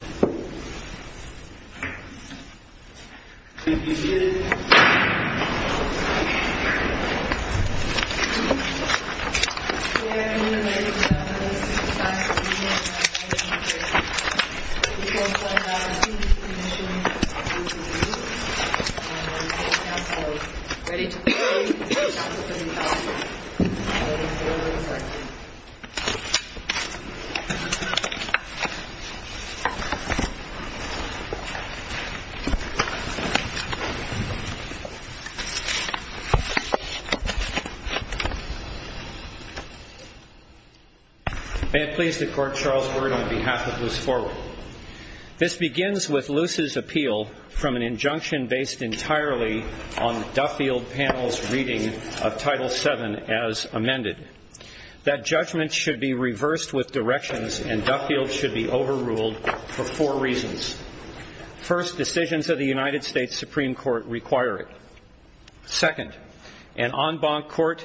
The beginning of The Battle of New Bethesda May it please the Court, Charles Word on behalf of Luce Forward. This begins with Luce's appeal from an injunction based entirely on Duffield Panel's reading of Title VII as amended. That judgment should be reversed with directions and Duffield should be overruled for four reasons. First, decisions of the United States Supreme Court require it. Second, an en banc court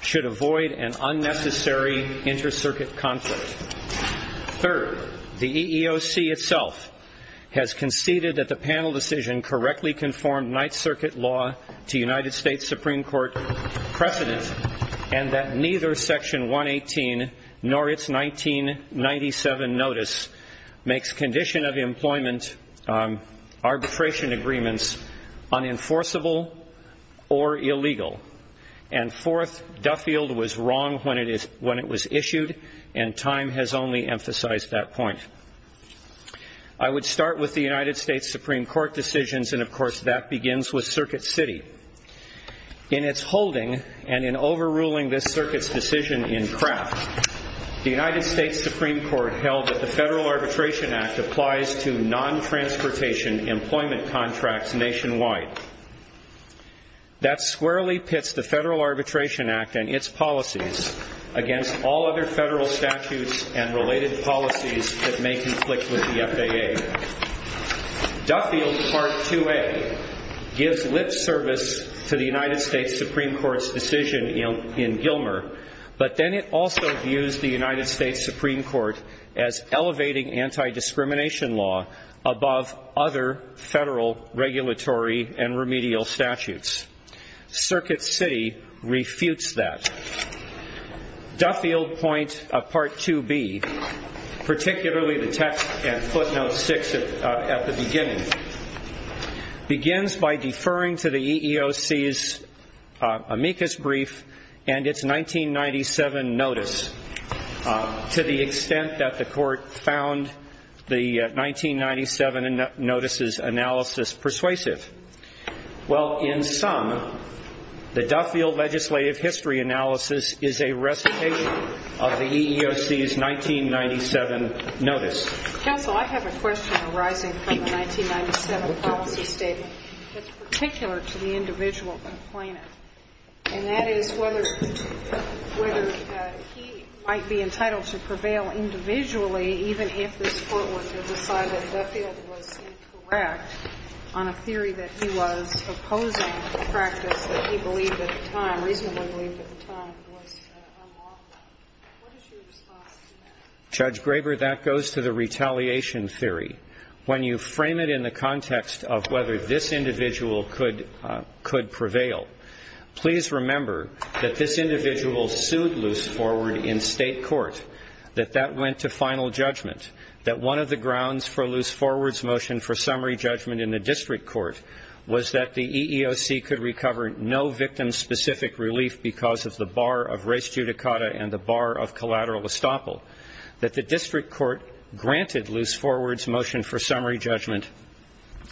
should avoid an unnecessary inter-circuit conflict. Third, the EEOC itself has conceded that the panel decision correctly conformed Ninth Circuit law to United States Supreme Court precedent and that neither Section 118 nor its 1997 notice makes condition of employment arbitration agreements unenforceable or illegal. And fourth, Duffield was wrong when it was issued and time has only emphasized that point. I would start with the United States Supreme Court decisions and of course that begins with Circuit City. In its holding and in overruling this circuit's decision in Kraft, the United States Supreme Court held that the Federal Arbitration Act applies to non-transportation employment contracts nationwide. That squarely pits the Federal Arbitration Act and its policies against all other federal statutes and related policies that may conflict with the FAA. Duffield Part 2A gives lip service to the United States Supreme Court's decision in Gilmer, but then it also views the United States Supreme Court as elevating anti-discrimination law above other federal regulatory and remedial statutes. Circuit City refutes that. Duffield Point Part 2B, particularly the text and footnote 6 at the beginning, begins by deferring to the EEOC's amicus brief and its 1997 notice to the extent that the Court found the 1997 notices analysis persuasive. Well, in sum, the Duffield legislative history analysis is a recitation of the EEOC's 1997 notice. Counsel, I have a question arising from the 1997 policy statement that's particular to the individual complainant, and that is whether he might be entitled to prevail individually even if this Court were to decide that Duffield was incorrect on a theory that he was opposing a practice that he believed at the time, reasonably believed at the time, was unlawful. What is your response to that? Judge Graber, that goes to the retaliation theory. When you frame it in the context of whether this individual could prevail, please remember that this individual sued Loose Forward in State court, that that went to final judgment, that one of the grounds for Loose Forward's motion for summary judgment in the district court was that the EEOC could recover no victim-specific relief because of the bar of res judicata and the bar of collateral estoppel, that the district court granted Loose Forward's motion for summary judgment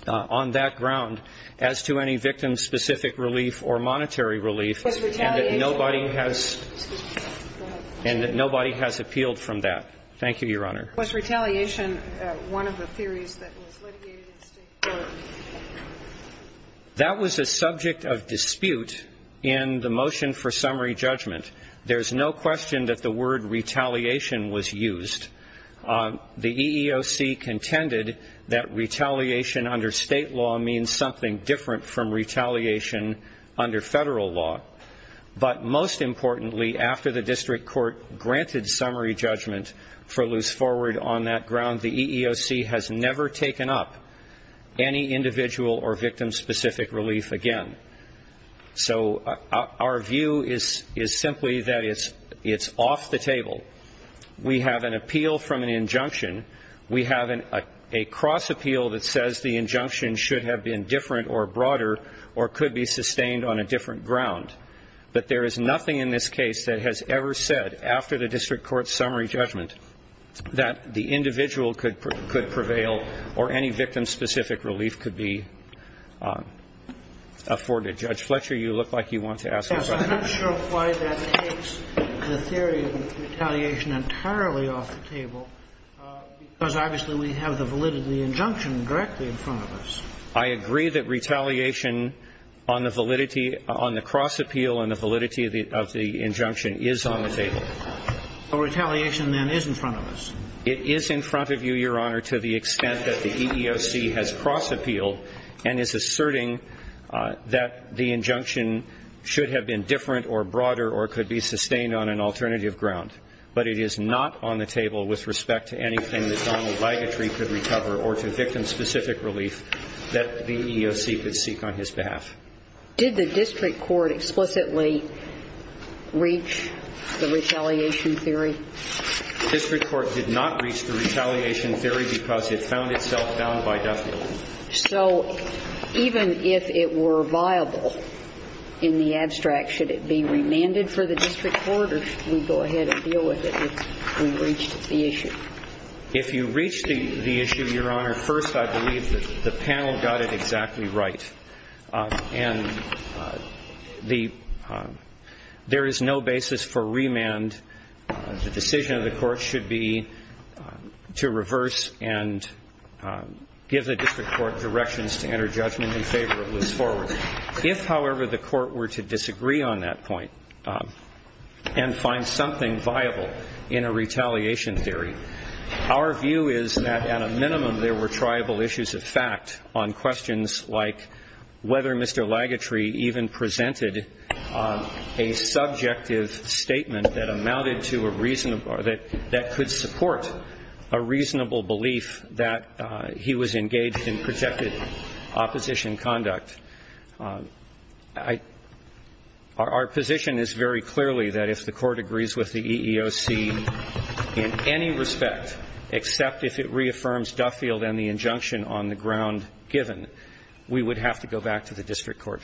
on that ground as to any victim-specific relief or monetary relief and that nobody has appealed from that. Thank you, Your Honor. Was retaliation one of the theories that was litigated in State court? That was a subject of dispute in the motion for summary judgment. There's no question that the word retaliation was used. The EEOC contended that retaliation under State law means something different from retaliation under federal law. But most importantly, after the district court granted summary judgment for Loose Forward on that ground, the EEOC has never taken up any individual or victim-specific relief again. So our view is simply that it's off the table. We have an appeal from an injunction. We have a cross appeal that says the injunction should have been different or broader or could be sustained on a different ground. But there is nothing in this case that has ever said, after the district court's summary judgment, that the individual could prevail or any victim-specific relief could be afforded. Judge Fletcher, you look like you want to ask a question. I'm not sure why that takes the theory of retaliation entirely off the table, because obviously we have the validity of the injunction directly in front of us. I agree that retaliation on the validity of the cross appeal and the validity of the injunction is on the table. So retaliation, then, is in front of us. It is in front of you, Your Honor, to the extent that the EEOC has cross appealed and is asserting that the injunction should have been different or broader or could be sustained on an alternative ground. But it is not on the table with respect to anything that Donald Ligatre could recover or to victim-specific relief that the EEOC could seek on his behalf. Did the district court explicitly reach the retaliation theory? The district court did not reach the retaliation theory because it found itself bound by death penalty. So even if it were viable in the abstract, should it be remanded for the district court or should we go ahead and deal with it if we reached the issue? If you reached the issue, Your Honor, first, I believe that the panel got it exactly right. And there is no basis for remand. The decision of the court should be to reverse and give the district court directions to enter judgment in favor of Liz Forward. If, however, the court were to disagree on that point and find something viable in a retaliation theory, our view is that at a minimum there were triable issues of fact on questions like whether Mr. Ligatre even presented a subjective statement that amounted to a reasonable or that could support a reasonable belief that he was engaged in projected opposition conduct. Our position is very clearly that if the court agrees with the EEOC in any respect, except if it reaffirms Duffield and the injunction on the ground given, we would have to go back to the district court.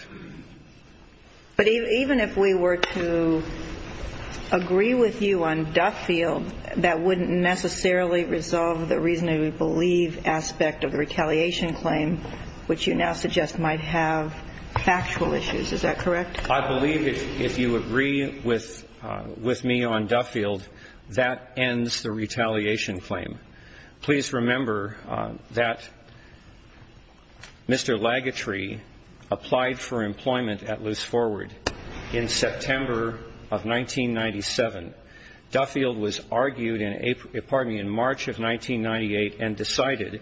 But even if we were to agree with you on Duffield, that wouldn't necessarily resolve the reasonable belief aspect of the retaliation claim, which you now suggest might have factual issues. Is that correct? I believe if you agree with me on Duffield, that ends the retaliation claim. Please remember that Mr. Ligatre applied for employment at Liz Forward in September of 1997. Duffield was argued in March of 1998 and decided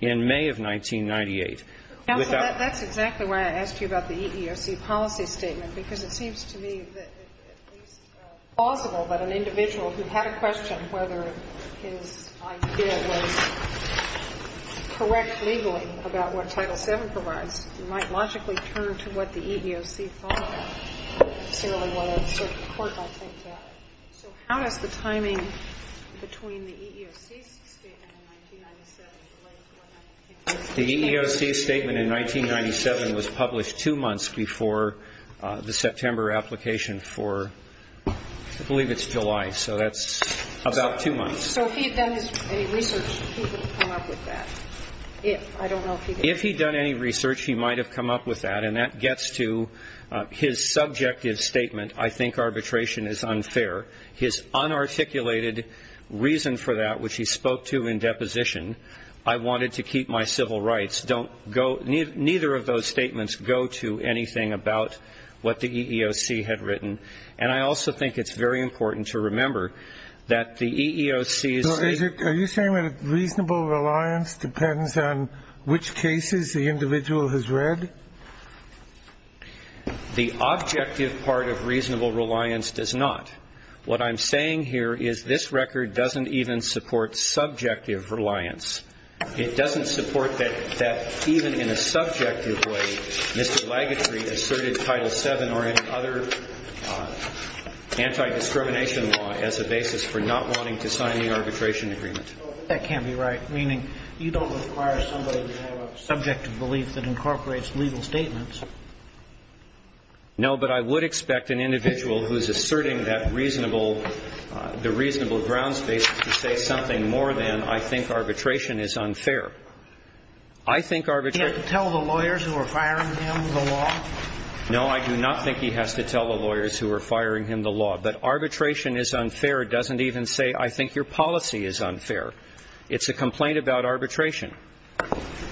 in May of 1998. Counsel, that's exactly why I asked you about the EEOC policy statement, because it seems to me that it's plausible that an individual who had a question whether his idea was correct legally about what Title VII provides might logically turn to what the EEOC thought. So how does the timing between the EEOC statement and 1997 relate to what I'm thinking? The EEOC statement in 1997 was published two months before the September application for, I believe it's July, so that's about two months. So if he had done any research, he would have come up with that. If, I don't know if he did. If he had done any research, he might have come up with that. And that gets to his subjective statement, I think arbitration is unfair. His unarticulated reason for that, which he spoke to in deposition, I wanted to keep my civil rights. Don't go ñ neither of those statements go to anything about what the EEOC had written. And I also think it's very important to remember that the EEOC's ñ So are you saying that reasonable reliance depends on which cases the individual has read? The objective part of reasonable reliance does not. What I'm saying here is this record doesn't even support subjective reliance. It doesn't support that even in a subjective way, Mr. Lagutry asserted Title VII or any other anti-discrimination law as a basis for not wanting to sign the arbitration agreement. That can't be right, meaning you don't require somebody to have a subjective belief that incorporates legal statements. No, but I would expect an individual who's asserting that reasonable ñ the reasonable grounds basis to say something more than I think arbitration is unfair. I think arbitration ñ He has to tell the lawyers who are firing him the law? No, I do not think he has to tell the lawyers who are firing him the law. But arbitration is unfair doesn't even say I think your policy is unfair. It's a complaint about arbitration.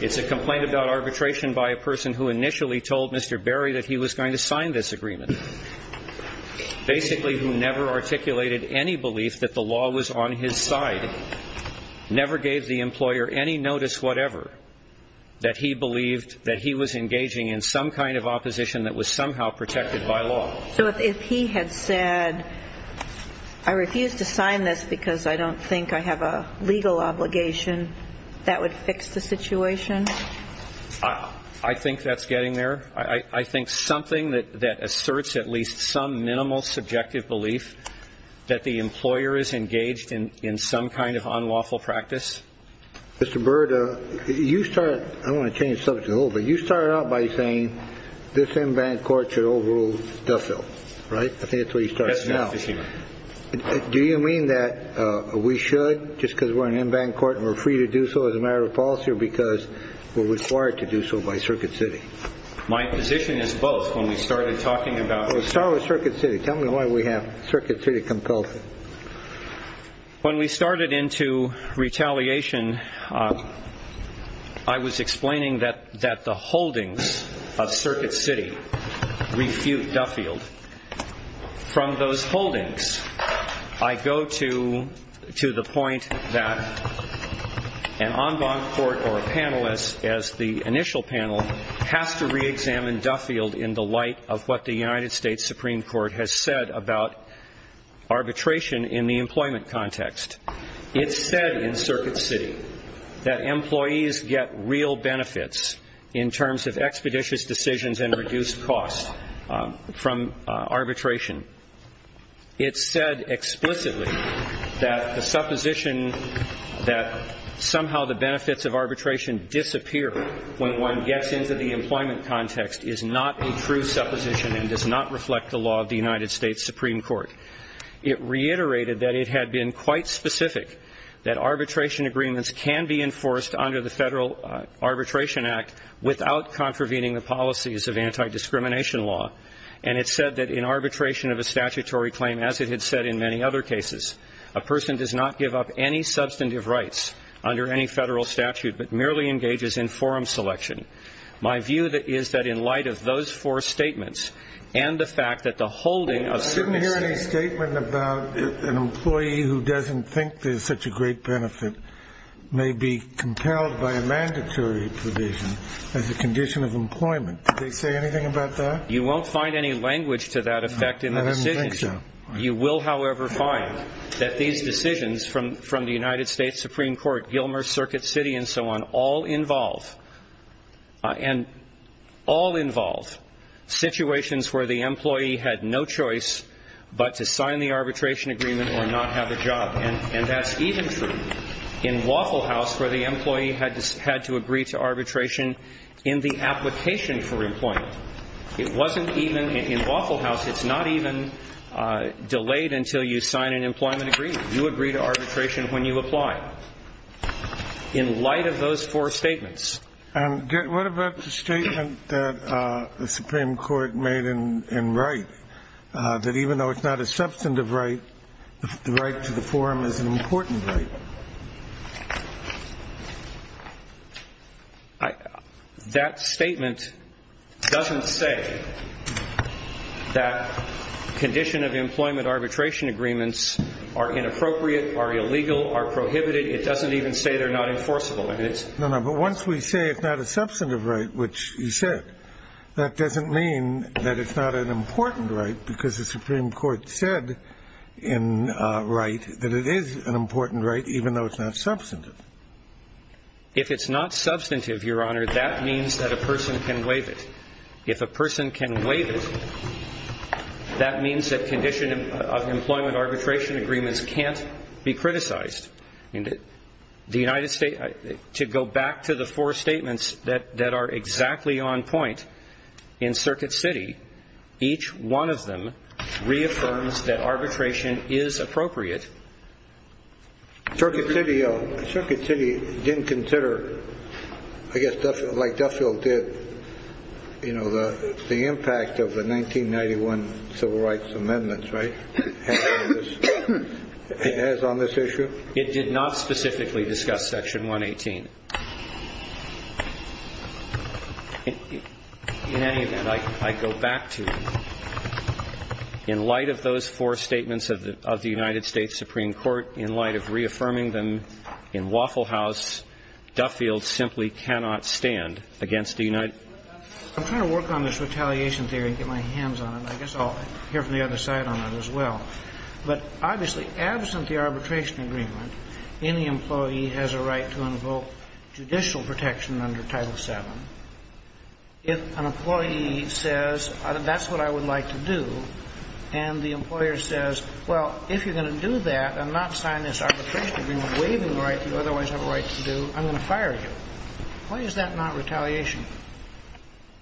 It's a complaint about arbitration by a person who initially told Mr. Berry that he was going to sign this agreement, basically who never articulated any belief that the law was on his side, never gave the employer any notice whatever that he believed that he was engaging in some kind of opposition that was somehow protected by law. So if he had said, I refuse to sign this because I don't think I have a legal obligation, that would fix the situation? I think that's getting there. I think something that asserts at least some minimal subjective belief that the employer is engaged in some kind of unlawful practice. Mr. Byrd, you started ñ I don't want to change the subject at all, but you started out by saying this en banc court should overrule Duffield, right? I think that's where you started. Do you mean that we should just because we're an en banc court and we're free to do so as a matter of policy or because we're required to do so by Circuit City? My position is both when we started talking about Let's start with Circuit City. Tell me why we have Circuit City compulsive. When we started into retaliation, I was explaining that the holdings of Circuit City refute Duffield. From those holdings, I go to the point that an en banc court or a panelist as the initial panel has to reexamine Duffield in the light of what the United States Supreme Court has said about arbitration in the employment context. It said in Circuit City that employees get real benefits in terms of expeditious decisions and reduced costs from arbitration. It said explicitly that the supposition that somehow the benefits of arbitration disappear when one gets into the employment context is not a true supposition and does not reflect the law of the United States Supreme Court. It reiterated that it had been quite specific that arbitration agreements can be enforced under the Federal Arbitration Act without contravening the policies of anti-discrimination law. And it said that in arbitration of a statutory claim, as it had said in many other cases, a person does not give up any substantive rights under any federal statute but merely engages in forum selection. My view is that in light of those four statements and the fact that the holding of certain states... I didn't hear any statement about an employee who doesn't think there's such a great benefit may be compelled by a mandatory provision as a condition of employment. Did they say anything about that? You won't find any language to that effect in the decisions. I didn't think so. You will, however, find that these decisions from the United States Supreme Court, Gilmer, Circuit City, and so on, all involve situations where the employee had no choice but to sign the arbitration agreement or not have a job. And that's even true in Waffle House where the employee had to agree to arbitration in the application for employment. It wasn't even in Waffle House. It's not even delayed until you sign an employment agreement. You agree to arbitration when you apply. In light of those four statements... And what about the statement that the Supreme Court made in Wright that even though it's not a substantive right, the right to the forum is an important right? That statement doesn't say that condition of employment arbitration agreements are inappropriate, are illegal, are prohibited. It doesn't even say they're not enforceable. No, no, but once we say it's not a substantive right, which you said, that doesn't mean that it's not an important right because the Supreme Court said in Wright that it is an important right even though it's not substantive. If it's not substantive, Your Honor, that means that a person can waive it. If a person can waive it, that means that condition of employment arbitration agreements can't be criticized. And the United States, to go back to the four statements that are exactly on point in Circuit City, each one of them reaffirms that arbitration is appropriate. Circuit City didn't consider, I guess, like Duffield did, you know, the impact of the 1991 Civil Rights Amendment, right? It has on this issue? It did not specifically discuss Section 118. In any event, I go back to you. In light of those four statements of the United States Supreme Court, in light of reaffirming them in Waffle House, Duffield simply cannot stand against the United States. I'm trying to work on this retaliation theory and get my hands on it. I guess I'll hear from the other side on it as well. But obviously, absent the arbitration agreement, any employee has a right to invoke judicial protection under Title VII. If an employee says, that's what I would like to do, and the employer says, well, if you're going to do that and not sign this arbitration agreement waiving the right you otherwise have a right to do, I'm going to fire you. Why is that not retaliation?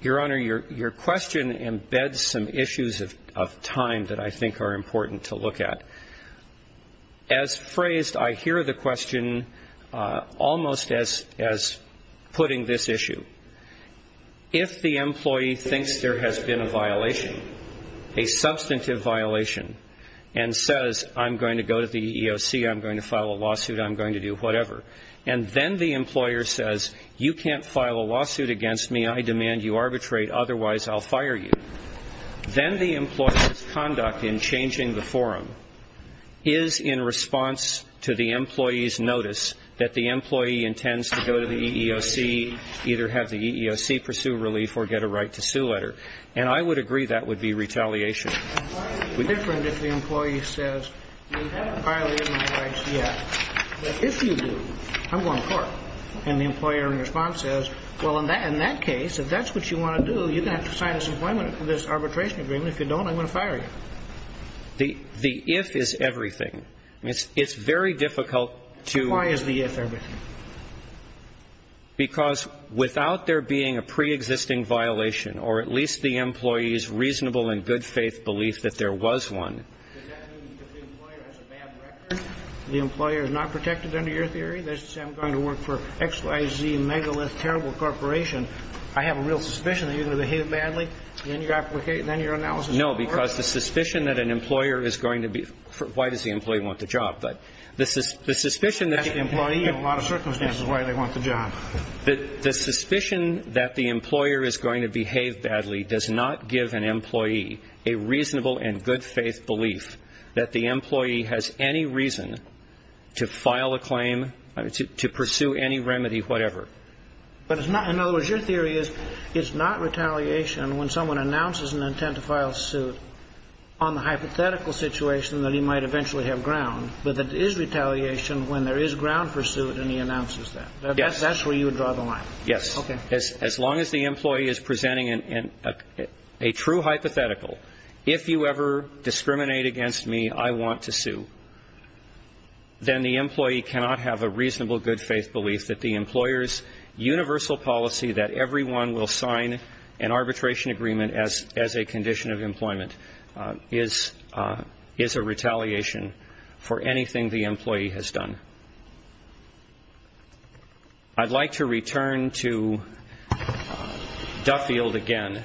Your Honor, your question embeds some issues of time that I think are important to look at. As phrased, I hear the question almost as putting this issue. If the employee thinks there has been a violation, a substantive violation, and says, I'm going to go to the EEOC, I'm going to file a lawsuit, I'm going to do whatever, and then the employer says, you can't file a lawsuit against me, I demand you arbitrate, otherwise I'll fire you, then the employer's conduct in changing the forum is in response to the employee's notice that the employee intends to go to the EEOC, either have the EEOC pursue relief or get a right to sue letter. And I would agree that would be retaliation. And why is it different if the employee says, you haven't violated my rights yet, but if you do, I'm going to court, and the employer in response says, well, in that case, if that's what you want to do, you're going to have to sign this arbitration agreement. If you don't, I'm going to fire you. The if is everything. It's very difficult to Why is the if everything? Because without there being a preexisting violation, or at least the employee's reasonable and good faith belief that there was one. Does that mean if the employer has a bad record, the employer is not protected under your theory, that I'm going to work for X, Y, Z, megalith, terrible corporation, I have a real suspicion that you're going to behave badly, then your analysis won't work? No, because the suspicion that an employer is going to be why does the employee want the job? But this is the suspicion that the employee in a lot of circumstances why they want the job, that the suspicion that the employer is going to behave badly does not give an employee a reasonable and good faith belief that the employee has any reason to file a claim to pursue any remedy, whatever. But it's not. In other words, your theory is it's not retaliation. When someone announces an intent to file suit on the hypothetical situation that he might eventually have ground. But it is retaliation when there is ground pursued and he announces that. Yes. That's where you would draw the line. Yes. Okay. As long as the employee is presenting a true hypothetical, if you ever discriminate against me, I want to sue, then the employee cannot have a reasonable good faith belief that the employer's universal policy that everyone will sign an arbitration agreement as a condition of employment is a retaliation for anything the employee has done. I'd like to return to Duffield again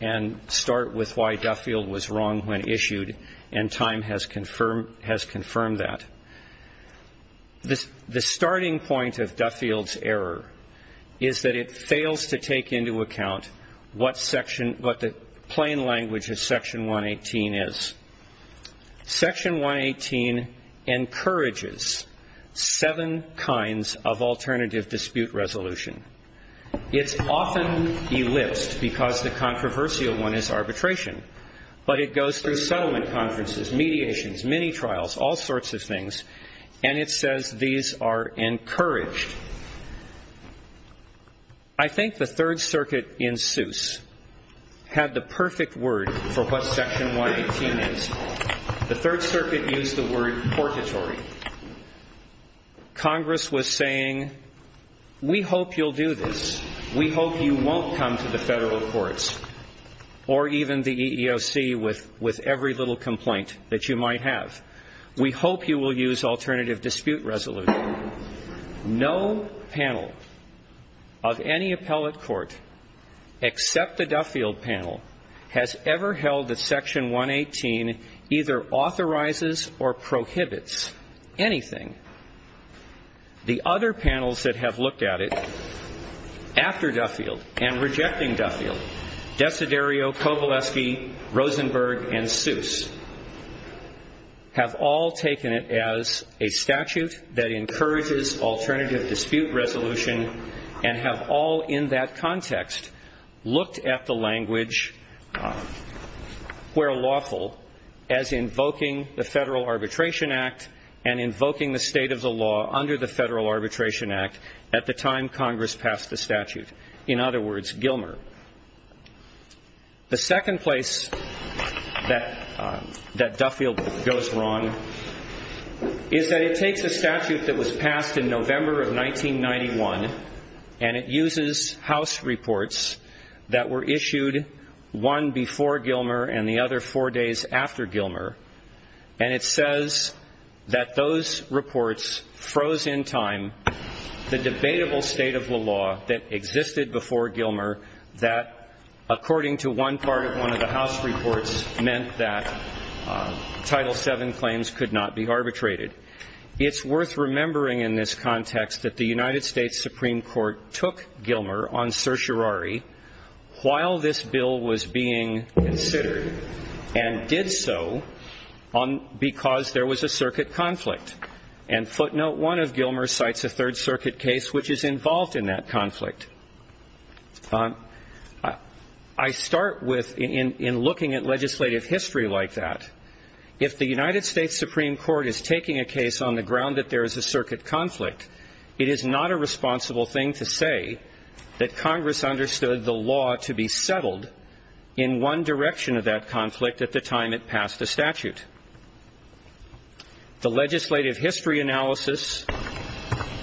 and start with why Duffield was wrong when issued and time has confirmed that. The starting point of Duffield's error is that it fails to take into account what the plain language of Section 118 is. Section 118 encourages seven kinds of alternative dispute resolution. It's often elipsed because the controversial one is arbitration. But it goes through settlement conferences, mediations, mini-trials, all sorts of things, and it says these are encouraged. I think the Third Circuit in Seuss had the perfect word for what Section 118 is. The Third Circuit used the word portatory. Congress was saying, we hope you'll do this. We hope you won't come to the federal courts or even the EEOC with every little complaint that you might have. We hope you will use alternative dispute resolution. No panel of any appellate court except the Duffield panel has ever held that Section 118 either authorizes or prohibits anything. The other panels that have looked at it after Duffield and rejecting Duffield, Desiderio, Kovaleski, Rosenberg, and Seuss, have all taken it as a statute that encourages alternative dispute resolution and have all in that context looked at the language, where lawful, as invoking the Federal Arbitration Act and invoking the state of the law under the Federal Arbitration Act at the time Congress passed the statute, in other words, Gilmer. The second place that Duffield goes wrong is that it takes a statute that was passed in November of 1991 and it uses House reports that were issued one before Gilmer and the other four days after Gilmer, and it says that those reports froze in time the debatable state of the law that existed before Gilmer that, according to one part of one of the House reports, meant that Title VII claims could not be arbitrated. It's worth remembering in this context that the United States Supreme Court took Gilmer on certiorari while this bill was being considered and did so because there was a circuit conflict. And footnote one of Gilmer cites a Third Circuit case which is involved in that conflict. I start with, in looking at legislative history like that, if the United States Supreme Court is taking a case on the ground that there is a circuit conflict, it is not a responsible thing to say that Congress understood the law to be settled in one direction of that conflict at the time it passed the statute. The legislative history analysis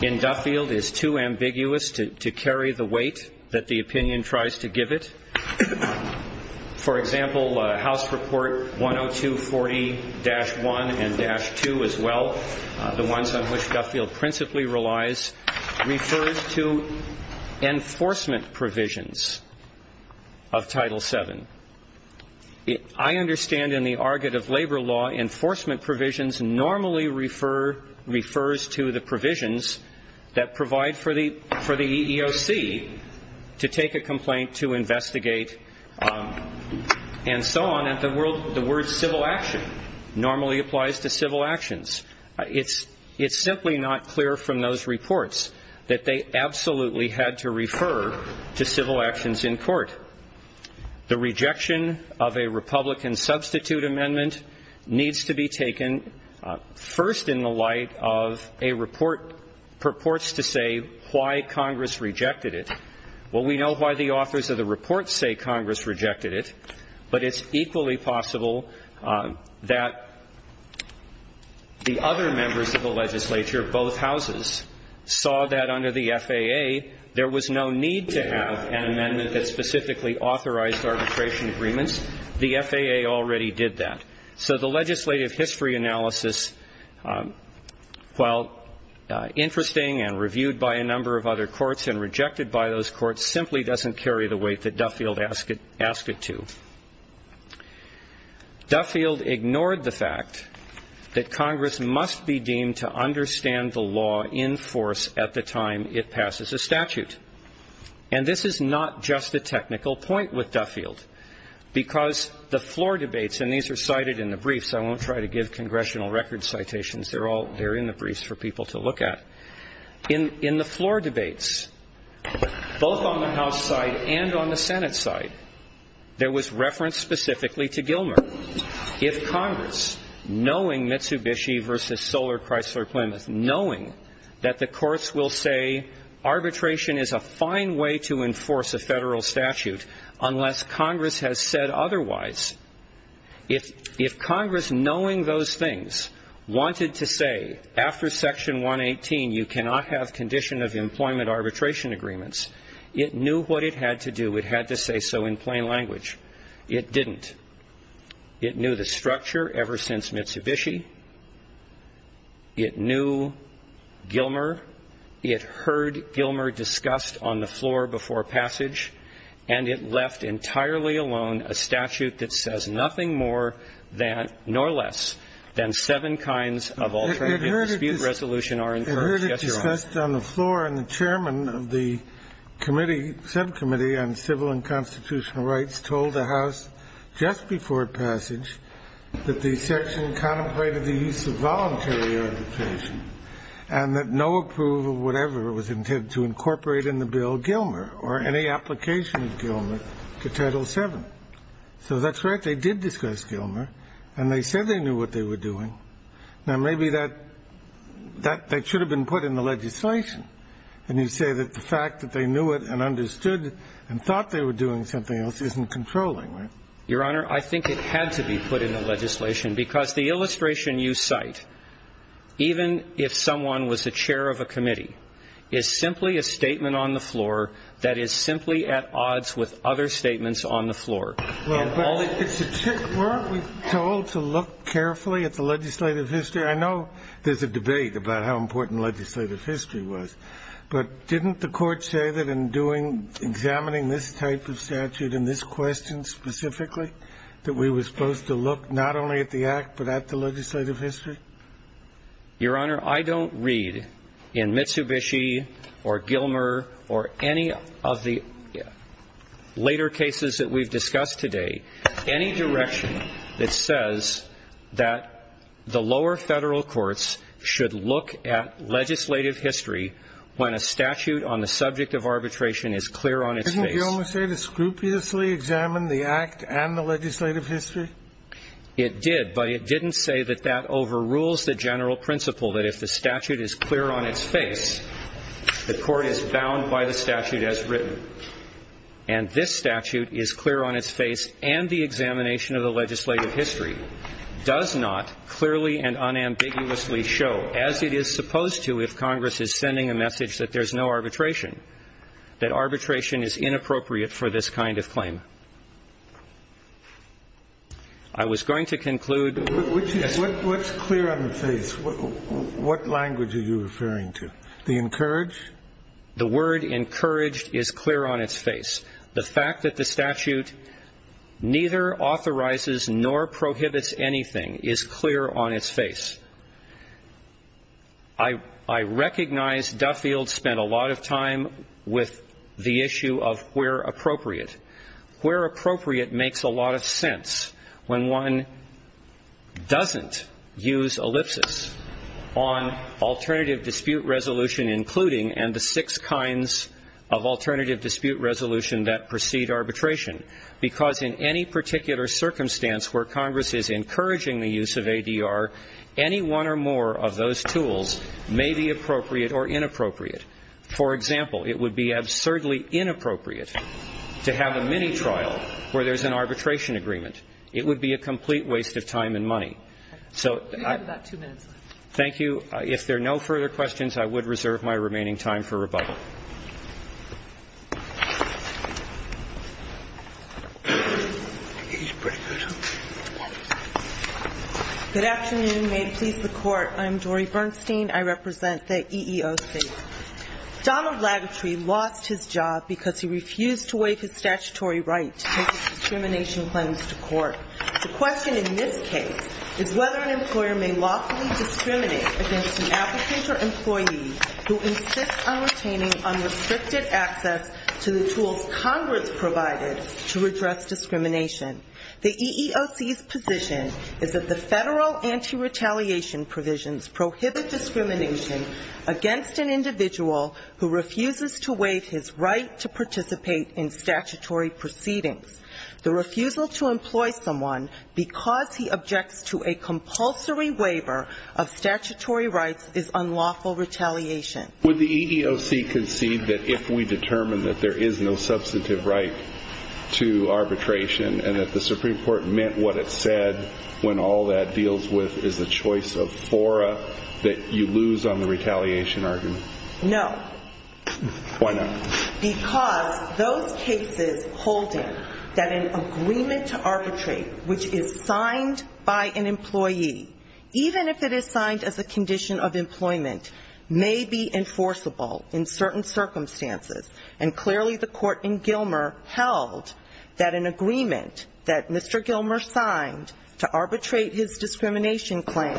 in Duffield is too ambiguous to carry the weight that the opinion tries to give it. For example, House Report 10240-1 and-2 as well, the ones on which Duffield principally relies, refers to enforcement provisions of Title VII. I understand in the argot of labor law, enforcement provisions normally refers to the provisions that provide for the EEOC to take a complaint, to investigate, and so on. And the word civil action normally applies to civil actions. It's simply not clear from those reports that they absolutely had to refer to civil actions in court. The rejection of a Republican substitute amendment needs to be taken first in the light of a report to say why Congress rejected it. Well, we know why the authors of the report say Congress rejected it, but it's equally possible that the other members of the legislature, both houses, saw that under the FAA, there was no need to have an amendment that specifically authorized arbitration agreements. The FAA already did that. So the legislative history analysis, while interesting and reviewed by a number of other courts and rejected by those courts, simply doesn't carry the weight that Duffield asked it to. Duffield ignored the fact that Congress must be deemed to understand the law in force at the time it passes a statute. And this is not just a technical point with Duffield, because the floor debates, and these are cited in the briefs. I won't try to give congressional record citations. They're in the briefs for people to look at. In the floor debates, both on the House side and on the Senate side, there was reference specifically to Gilmer. If Congress, knowing Mitsubishi v. Solar Chrysler Plymouth, knowing that the courts will say arbitration is a fine way to enforce a federal statute unless Congress has said otherwise, if Congress, knowing those things, wanted to say after Section 118 you cannot have condition of employment arbitration agreements, it knew what it had to do. It had to say so in plain language. It didn't. It knew the structure ever since Mitsubishi. It knew Gilmer. It heard Gilmer discussed on the floor before passage. And it left entirely alone a statute that says nothing more than, nor less, than seven kinds of alternative dispute resolution are enforced. Yes, Your Honor. It heard it discussed on the floor, and the chairman of the committee, subcommittee on civil and constitutional rights, told the House just before passage that the section contemplated the use of voluntary arbitration and that no approval of whatever was intended to incorporate in the bill Gilmer or any application of Gilmer to Title VII. So that's right. They did discuss Gilmer. And they said they knew what they were doing. Now, maybe that should have been put in the legislation. And you say that the fact that they knew it and understood and thought they were doing something else isn't controlling, right? Your Honor, I think it had to be put in the legislation, because the illustration you cite, even if someone was the chair of a committee, is simply a statement on the floor that is simply at odds with other statements on the floor. Well, but weren't we told to look carefully at the legislative history? I know there's a debate about how important legislative history was. But didn't the Court say that in doing, examining this type of statute and this question specifically, that we were supposed to look not only at the Act but at the legislative history? Your Honor, I don't read in Mitsubishi or Gilmer or any of the later cases that we've discussed today any direction that says that the lower federal courts should look at legislative history when a statute on the subject of arbitration is clear on its face. Did you almost say to scrupulously examine the Act and the legislative history? It did, but it didn't say that that overrules the general principle that if the statute is clear on its face, the Court is bound by the statute as written. And this statute is clear on its face, and the examination of the legislative history does not clearly and unambiguously show, as it is supposed to if Congress is sending a message that there's no arbitration, that arbitration is inappropriate for this kind of claim. I was going to conclude with this. What's clear on the face? What language are you referring to? The encouraged? The word encouraged is clear on its face. The fact that the statute neither authorizes nor prohibits anything is clear on its face. I recognize Duffield spent a lot of time with the issue of where appropriate. Where appropriate makes a lot of sense when one doesn't use ellipsis on alternative dispute resolution including and the six kinds of alternative dispute resolution that precede arbitration, because in any particular circumstance where Congress is encouraging the use of ADR, any one or more of those tools may be appropriate or inappropriate. For example, it would be absurdly inappropriate to have a mini-trial where there's an arbitration agreement. It would be a complete waste of time and money. So I... You have about two minutes left. Thank you. If there are no further questions, I would reserve my remaining time for rebuttal. He's pretty good, huh? Good afternoon. May it please the Court. I'm Dori Bernstein. I represent the EEOC. Donald Lagutry lost his job because he refused to waive his statutory right to take a discrimination claims to court. The question in this case is whether an employer may lawfully discriminate against an applicant or employee who insists on retaining a claim. The EEOC's position is that the federal anti-retaliation provisions prohibit discrimination against an individual who refuses to waive his right to participate in statutory proceedings. The refusal to employ someone because he objects to a compulsory waiver of statutory rights is unlawful retaliation. Would the EEOC concede that if we determine that there is no substantive right to arbitration and that the Supreme Court meant what it said when all that deals with is a choice of fora, that you lose on the retaliation argument? No. Why not? Because those cases holding that an agreement to arbitrate, which is signed by an employee, is enforceable in certain circumstances, and clearly the court in Gilmer held that an agreement that Mr. Gilmer signed to arbitrate his discrimination claim,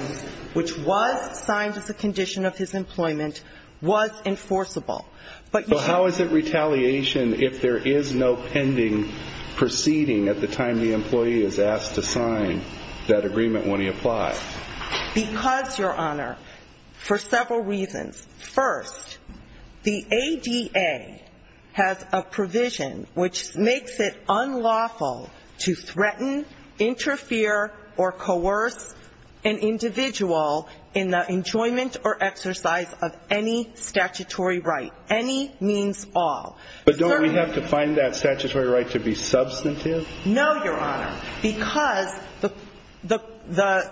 which was signed as a condition of his employment, was enforceable. But how is it retaliation if there is no pending proceeding at the time the employee is asked to sign that agreement when he applies? Because, Your Honor, for several reasons. First, the ADA has a provision which makes it unlawful to threaten, interfere, or coerce an individual in the enjoyment or exercise of any statutory right, any means all. But don't we have to find that statutory right to be substantive? No, Your Honor, because the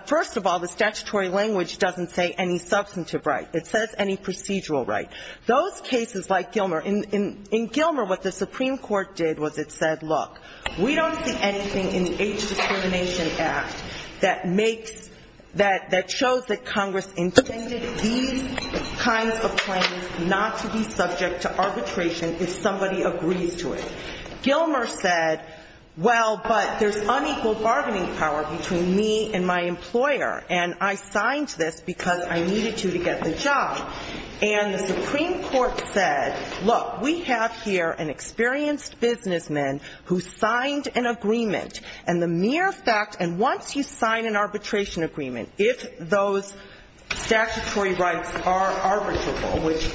first of all, the statutory language doesn't say any substantive right. It says any procedural right. Those cases like Gilmer, in Gilmer what the Supreme Court did was it said, look, we don't see anything in the Age Discrimination Act that makes, that shows that Congress intended these kinds of claims not to be subject to arbitration if somebody agrees to it. Gilmer said, well, but there's unequal bargaining power between me and my employer, and I signed this because I needed to to get the job. And the Supreme Court said, look, we have here an experienced businessman who signed an agreement, and the mere fact, and once you sign an arbitration agreement, if those statutory rights are arbitrable, which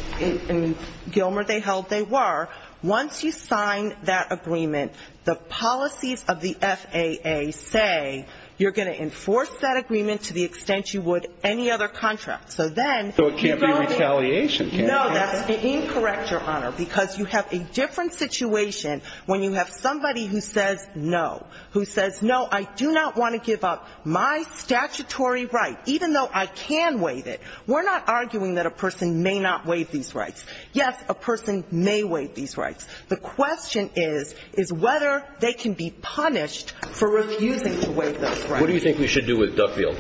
in Gilmer they held they were, once you sign an arbitration agreement, once you sign that agreement, the policies of the FAA say you're going to enforce that agreement to the extent you would any other contract. So then you're going to be able to do that. So it can't be retaliation, can it? No, that's incorrect, Your Honor, because you have a different situation when you have somebody who says no, who says, no, I do not want to give up my statutory right, even though I can waive it. We're not arguing that a person may not waive these rights. Yes, a person may waive these rights. The question is, is whether they can be punished for refusing to waive those rights. What do you think we should do with Duffield?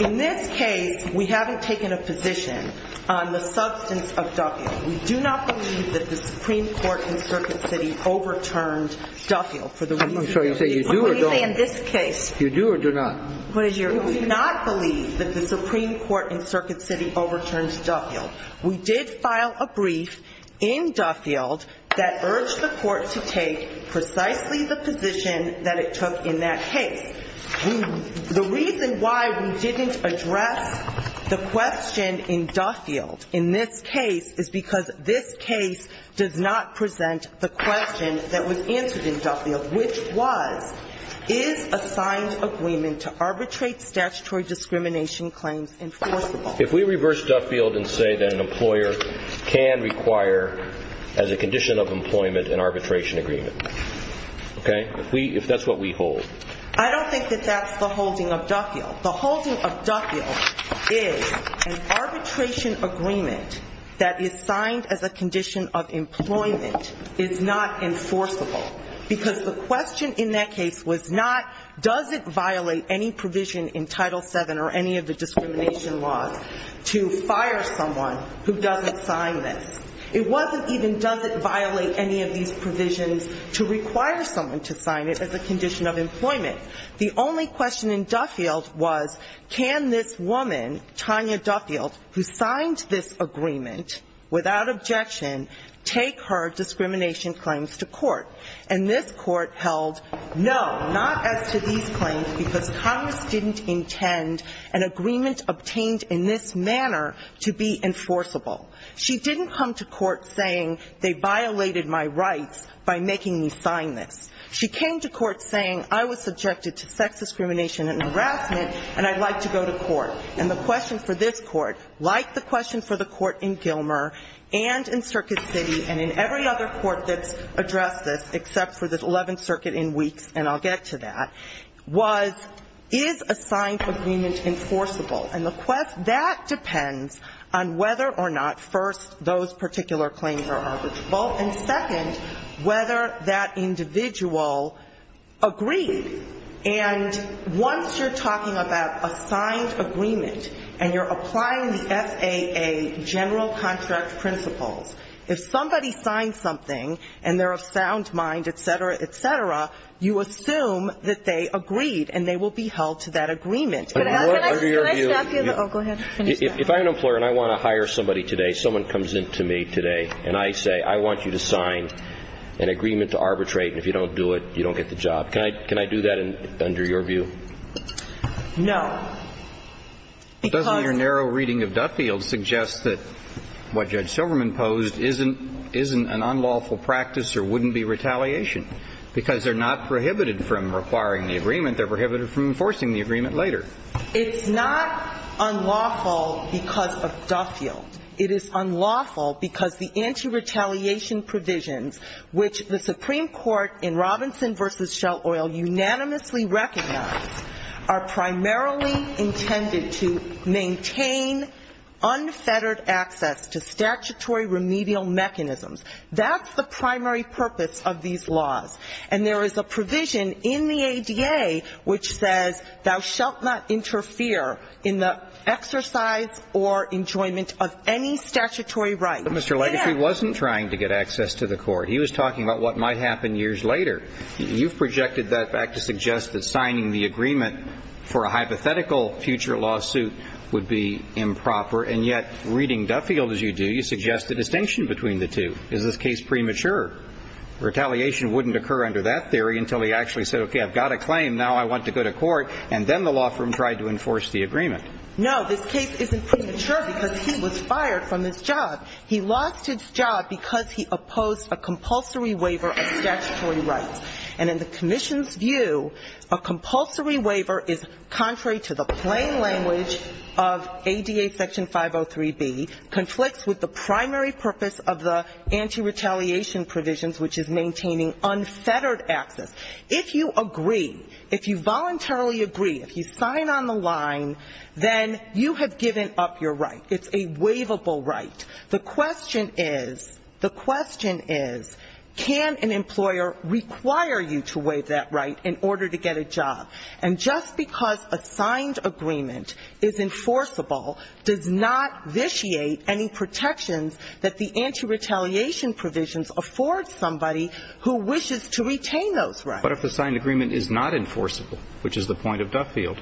In this case, we haven't taken a position on the substance of Duffield. We do not believe that the Supreme Court in Circuit City overturned Duffield. I'm sorry, you say you do or don't? What do you say in this case? You do or do not? We do not believe that the Supreme Court in Circuit City overturned Duffield. We did file a brief in Duffield that urged the court to take precisely the position that it took in that case. The reason why we didn't address the question in Duffield in this case is because this case does not present the question that was answered in Duffield, which was, is a signed agreement to arbitrate statutory discrimination claims enforceable? If we reverse Duffield and say that an employer can require, as a condition of employment, an arbitration agreement, okay? If that's what we hold. I don't think that that's the holding of Duffield. The holding of Duffield is an arbitration agreement that is signed as a condition of employment is not enforceable because the question in that case was not, does it violate any provision in Title VII or any of the discrimination laws to fire someone who doesn't sign this? It wasn't even does it violate any of these provisions to require someone to sign it as a condition of employment. The only question in Duffield was, can this woman, Tanya Duffield, who signed this agreement without objection, take her discrimination claims to court? And this court held no, not as to these claims, because Congress didn't intend an agreement obtained in this manner to be enforceable. She didn't come to court saying they violated my rights by making me sign this. She came to court saying I was subjected to sex discrimination and harassment and I'd like to go to court. And the question for this court, like the question for the court in Gilmer and in Circuit City and in every other court that's addressed this except for the 11th Circuit in weeks, and I'll get to that, was, is a signed agreement enforceable? And that depends on whether or not, first, those particular claims are arbitrable, and second, whether that individual agreed. And once you're talking about a signed agreement and you're applying the FAA general contract principles, if somebody signs something and they're of sound mind, et cetera, et cetera, you assume that they agreed and they will be held to that agreement. Under your view ñ Can I stop you? Oh, go ahead. If I'm an employer and I want to hire somebody today, someone comes in to me today and I say, I want you to sign an agreement to arbitrate and if you don't do it, you don't get the job. Can I do that under your view? No, because ñ Doesn't your narrow reading of Duffield suggest that what Judge Silverman posed isn't an unlawful practice or wouldn't be retaliation? Because they're not prohibited from requiring the agreement. They're prohibited from enforcing the agreement later. It's not unlawful because of Duffield. It is unlawful because the anti-retaliation provisions, which the Supreme Court in Robinson v. Shell Oil unanimously recognized, are primarily intended to maintain unfettered access to statutory remedial mechanisms. That's the primary purpose of these laws. And there is a provision in the ADA which says, thou shalt not interfere in the exercise or enjoyment of any statutory right. But Mr. Legacy wasn't trying to get access to the court. He was talking about what might happen years later. You've projected that back to suggest that signing the agreement for a hypothetical future lawsuit would be improper, and yet reading Duffield as you do, you suggest a distinction between the two. Is this case premature? Retaliation wouldn't occur under that theory until he actually said, okay, I've got a claim, now I want to go to court, and then the law firm tried to enforce the agreement. No, this case isn't premature because he was fired from this job. He lost his job because he opposed a compulsory waiver of statutory rights. And in the commission's view, a compulsory waiver is contrary to the plain language of ADA Section 503B, conflicts with the primary purpose of the anti-retaliation provisions, which is maintaining unfettered access. If you agree, if you voluntarily agree, if you sign on the line, then you have given up your right. It's a waivable right. The question is, the question is, can an employer require you to waive that right in order to get a job? And just because a signed agreement is enforceable does not vitiate any protections that the anti-retaliation provisions afford somebody who wishes to retain those rights. But if the signed agreement is not enforceable, which is the point of Duffield.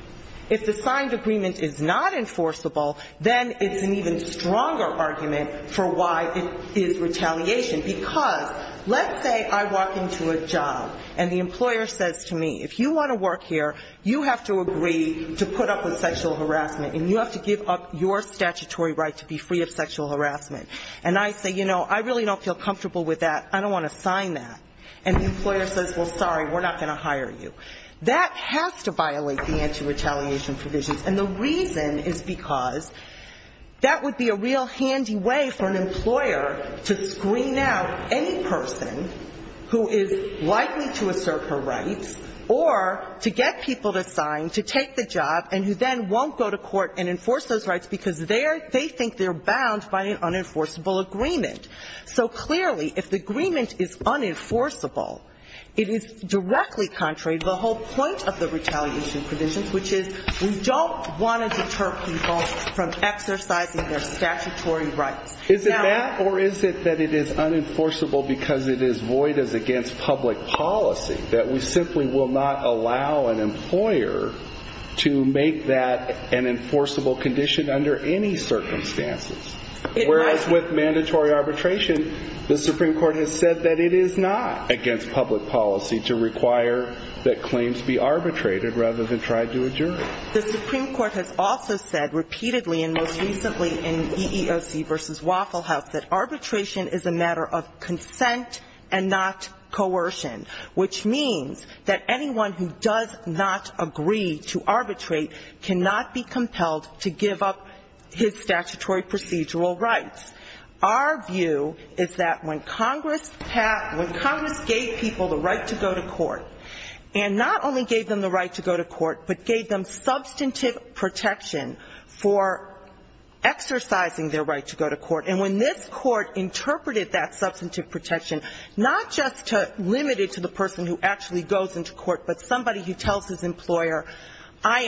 If the signed agreement is not enforceable, then it's an even stronger argument for why it is retaliation. Because let's say I walk into a job and the employer says to me, if you want to work here, you have to agree to put up with sexual harassment and you have to give up your statutory right to be free of sexual harassment. And I say, you know, I really don't feel comfortable with that. I don't want to sign that. And the employer says, well, sorry, we're not going to hire you. That has to violate the anti-retaliation provisions. And the reason is because that would be a real handy way for an employer to screen out any person who is likely to assert her rights or to get people to sign to take the job and who then won't go to court and enforce those rights because they think they're bound by an unenforceable agreement. So clearly, if the agreement is unenforceable, it is directly contrary to the whole point of the retaliation provisions, which is we don't want to deter people from exercising their statutory rights. Is it that or is it that it is unenforceable because it is void as against public policy, that we simply will not allow an employer to make that an enforceable condition under any circumstances, whereas with mandatory arbitration, the Supreme Court has said that it is not against public policy to require that claims be arbitrated rather than tried to adjourn. The Supreme Court has also said repeatedly and most recently in EEOC v. Waffle House that arbitration is a matter of consent and not coercion, which means that anyone who does not agree to arbitrate cannot be compelled to give up his statutory procedural rights. Our view is that when Congress gave people the right to go to court and not only gave them the right to go to court, but gave them substantive protection for exercising their right to go to court, and when this court interpreted that substantive protection, not just limited to the person who actually goes into court, but somebody who tells his employer, I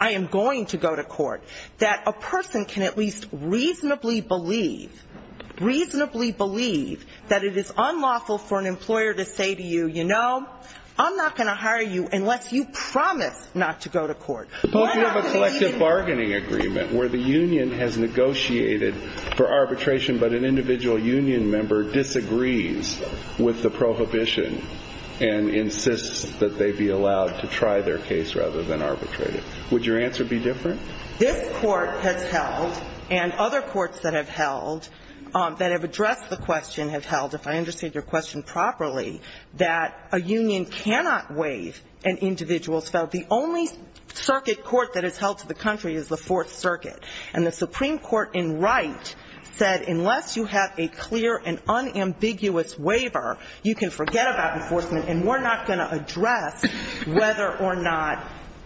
am going to go to court, that a person can at least reasonably believe, reasonably believe that it is unlawful for an employer to say to you, you know, I am not going to hire you unless you promise not to go to court. Suppose you have a collective bargaining agreement where the union has negotiated for arbitration, but an individual union member disagrees with the prohibition and insists that they be allowed to try their case rather than arbitrate it. Would your answer be different? This court has held, and other courts that have held, that have addressed the question have held, if I understood your question properly, that a union cannot waive an individual's felt. The only circuit court that has held to the country is the Fourth Circuit. And the Supreme Court in Wright said, unless you have a clear and unambiguous waiver, you can forget about enforcement, and we're not going to address whether or not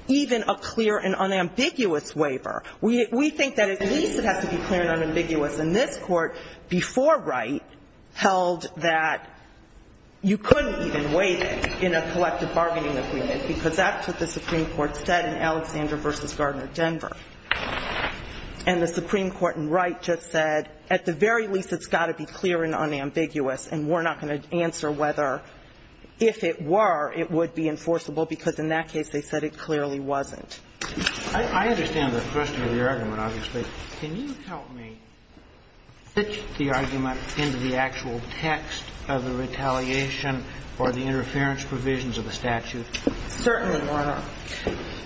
even a clear and unambiguous waiver. We think that at least it has to be clear and unambiguous. And this court, before Wright, held that you couldn't even waive it in a collective bargaining agreement because that's what the Supreme Court said in Alexander v. Gardner, Denver. And the Supreme Court in Wright just said, at the very least it's got to be clear and unambiguous, and we're not going to answer whether, if it were, it would be enforceable, because in that case they said it clearly wasn't. I understand the question of your argument, obviously. Can you help me fit the argument into the actual text of the retaliation or the interference provisions of the statute? Certainly, Your Honor.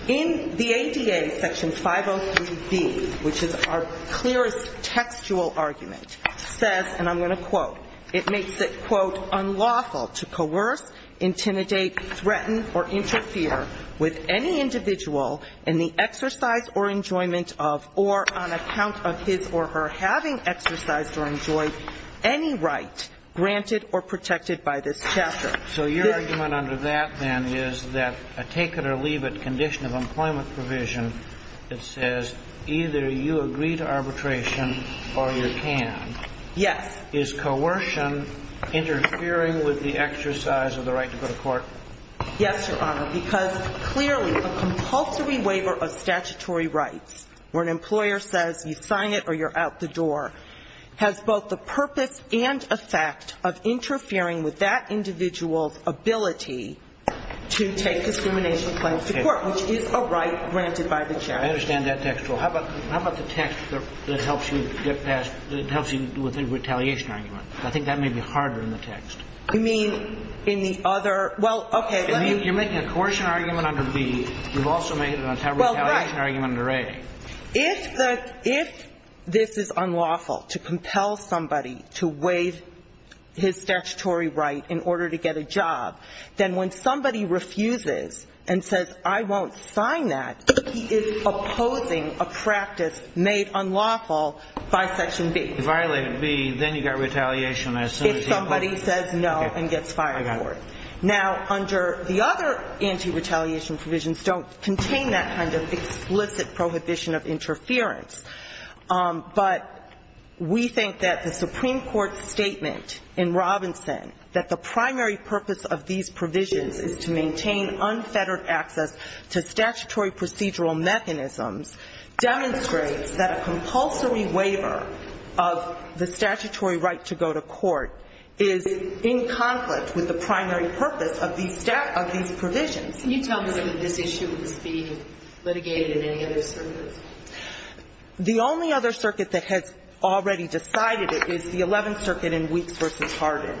In the ADA, Section 503b, which is our clearest textual argument, says, and I'm going to quote, it makes it, quote, unlawful to coerce, intimidate, threaten, or interfere with any individual in the exercise or enjoyment of, or on account of his or her having exercised or enjoyed any right granted or protected by this chapter. So your argument under that, then, is that a take-it-or-leave-it condition of employment provision that says either you agree to arbitration or you can. Yes. Is coercion interfering with the exercise of the right to go to court? Yes, Your Honor, because clearly a compulsory waiver of statutory rights where an employer says you sign it or you're out the door has both the purpose and effect of interfering with that individual's ability to take discrimination claims to court, which is a right granted by the judge. I understand that textual. Well, how about the text that helps you get past, that helps you with the retaliation argument? I think that may be harder in the text. You mean in the other? Well, okay. You're making a coercion argument under B. You've also made a retaliation argument under A. If this is unlawful to compel somebody to waive his statutory right in order to get a job, then when somebody refuses and says, I won't sign that, he is opposing a practice made unlawful by Section B. If I violated B, then you've got retaliation as soon as he goes? If somebody says no and gets fired for it. Okay. I got it. Now, under the other anti-retaliation provisions don't contain that kind of explicit prohibition of interference. But we think that the Supreme Court statement in Robinson that the primary purpose of these provisions is to maintain unfettered access to statutory procedural mechanisms demonstrates that a compulsory waiver of the statutory right to go to court is in conflict with the primary purpose of these provisions. Can you tell me that this issue is being litigated in any other circuits? The only other circuit that has already decided it is the Eleventh Circuit in Weeks v. Hardin.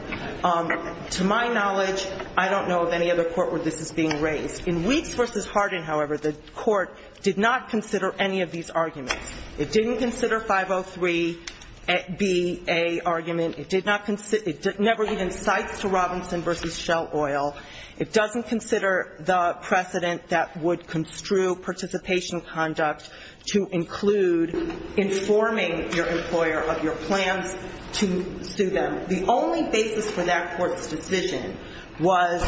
To my knowledge, I don't know of any other court where this is being raised. In Weeks v. Hardin, however, the court did not consider any of these arguments. It didn't consider 503Ba argument. It never even cites to Robinson v. Shell Oil. It doesn't consider the precedent that would construe participation conduct to include informing your employer of your plans to sue them. The only basis for that court's decision was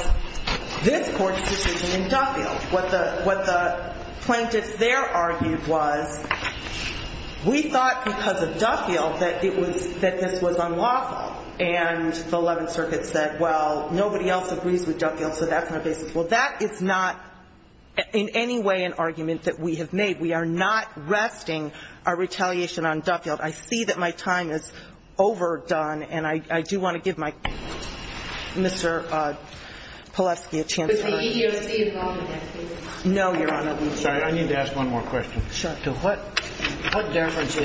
this court's decision in Duffield. What the plaintiffs there argued was we thought because of Duffield that this was unlawful. And the Eleventh Circuit said, well, nobody else agrees with Duffield, so that's not a basis. Well, that is not in any way an argument that we have made. We are not resting our retaliation on Duffield. I see that my time is overdone, and I do want to give my Mr. Pilevsky a chance. But the EEOC is not on that case. No, Your Honor. I'm sorry. I need to ask one more question. Sure. To what deference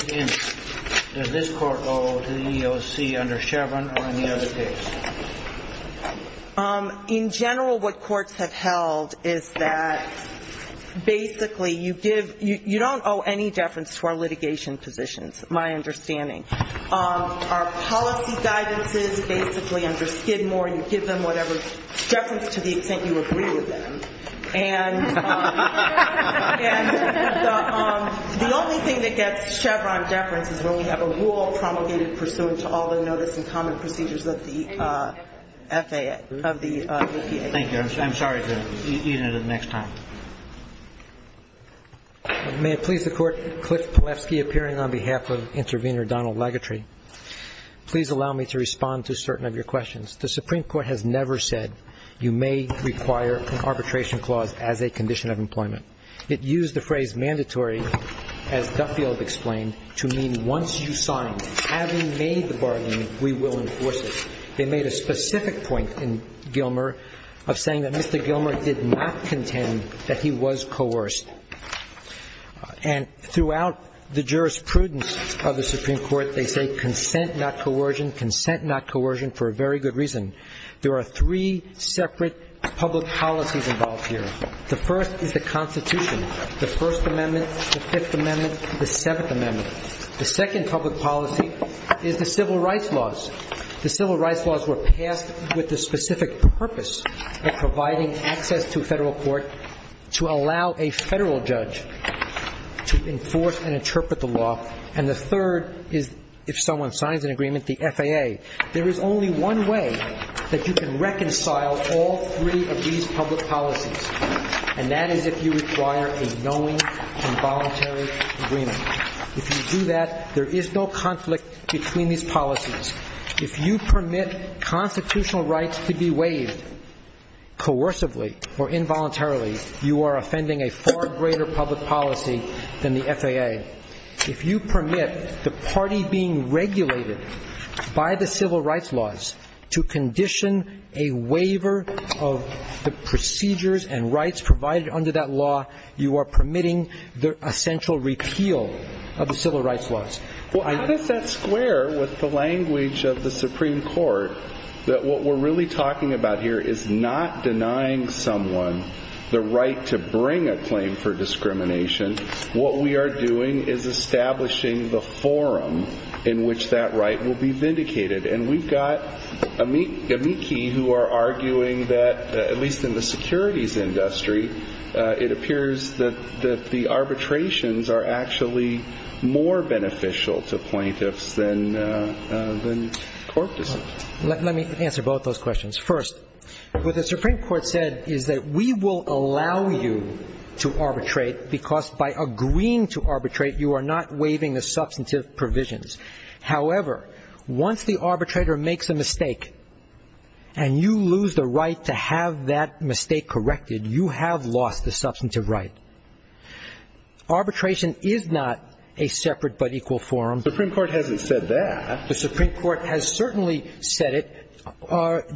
does this court owe to the EEOC under Chevron or any other case? In general, what courts have held is that basically you don't owe any deference to our litigation positions. That's my understanding. Our policy guidance is basically under Skidmore. You give them whatever deference to the extent you agree with them. And the only thing that gets Chevron deference is when we have a rule promulgated pursuant to all the notice and common procedures of the FAA, of the EPA. Thank you. I'm sorry to eat into the next time. May it please the Court, Cliff Pilevsky appearing on behalf of intervener Donald Lagutry. Please allow me to respond to certain of your questions. The Supreme Court has never said you may require an arbitration clause as a condition of employment. It used the phrase mandatory, as Duffield explained, to mean once you sign, having made the bargain, we will enforce it. They made a specific point in Gilmer of saying that Mr. Gilmer did not contend that he was coerced. And throughout the jurisprudence of the Supreme Court, they say consent, not coercion, consent, not coercion, for a very good reason. There are three separate public policies involved here. The first is the Constitution, the First Amendment, the Fifth Amendment, the Seventh Amendment. The second public policy is the civil rights laws. The civil rights laws were passed with the specific purpose of providing access to a federal court to allow a federal judge to enforce and interpret the law. And the third is if someone signs an agreement, the FAA. There is only one way that you can reconcile all three of these public policies, and that is if you require a knowing and voluntary agreement. If you do that, there is no conflict between these policies. If you permit constitutional rights to be waived coercively or involuntarily, you are offending a far greater public policy than the FAA. If you permit the party being regulated by the civil rights laws to condition a waiver of the procedures and rights provided under that law, you are permitting the essential repeal of the civil rights laws. Well, how does that square with the language of the Supreme Court that what we're really talking about here is not denying someone the right to bring a claim for discrimination? What we are doing is establishing the forum in which that right will be vindicated. And we've got amici who are arguing that, at least in the securities industry, it appears that the arbitrations are actually more beneficial to plaintiffs than court decisions. Let me answer both those questions. First, what the Supreme Court said is that we will allow you to arbitrate because by agreeing to arbitrate, you are not waiving the substantive provisions. However, once the arbitrator makes a mistake and you lose the right to have that mistake corrected, you have lost the substantive right. Arbitration is not a separate but equal forum. The Supreme Court hasn't said that. The Supreme Court has certainly said it.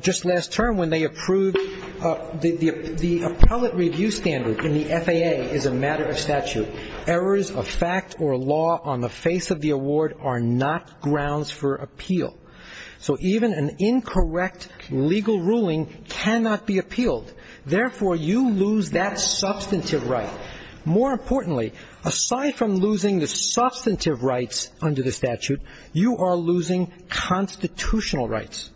Just last term when they approved the appellate review standard in the FAA is a matter of statute. Errors of fact or law on the face of the award are not grounds for appeal. So even an incorrect legal ruling cannot be appealed. Therefore, you lose that substantive right. More importantly, aside from losing the substantive rights under the statute, you are losing constitutional rights.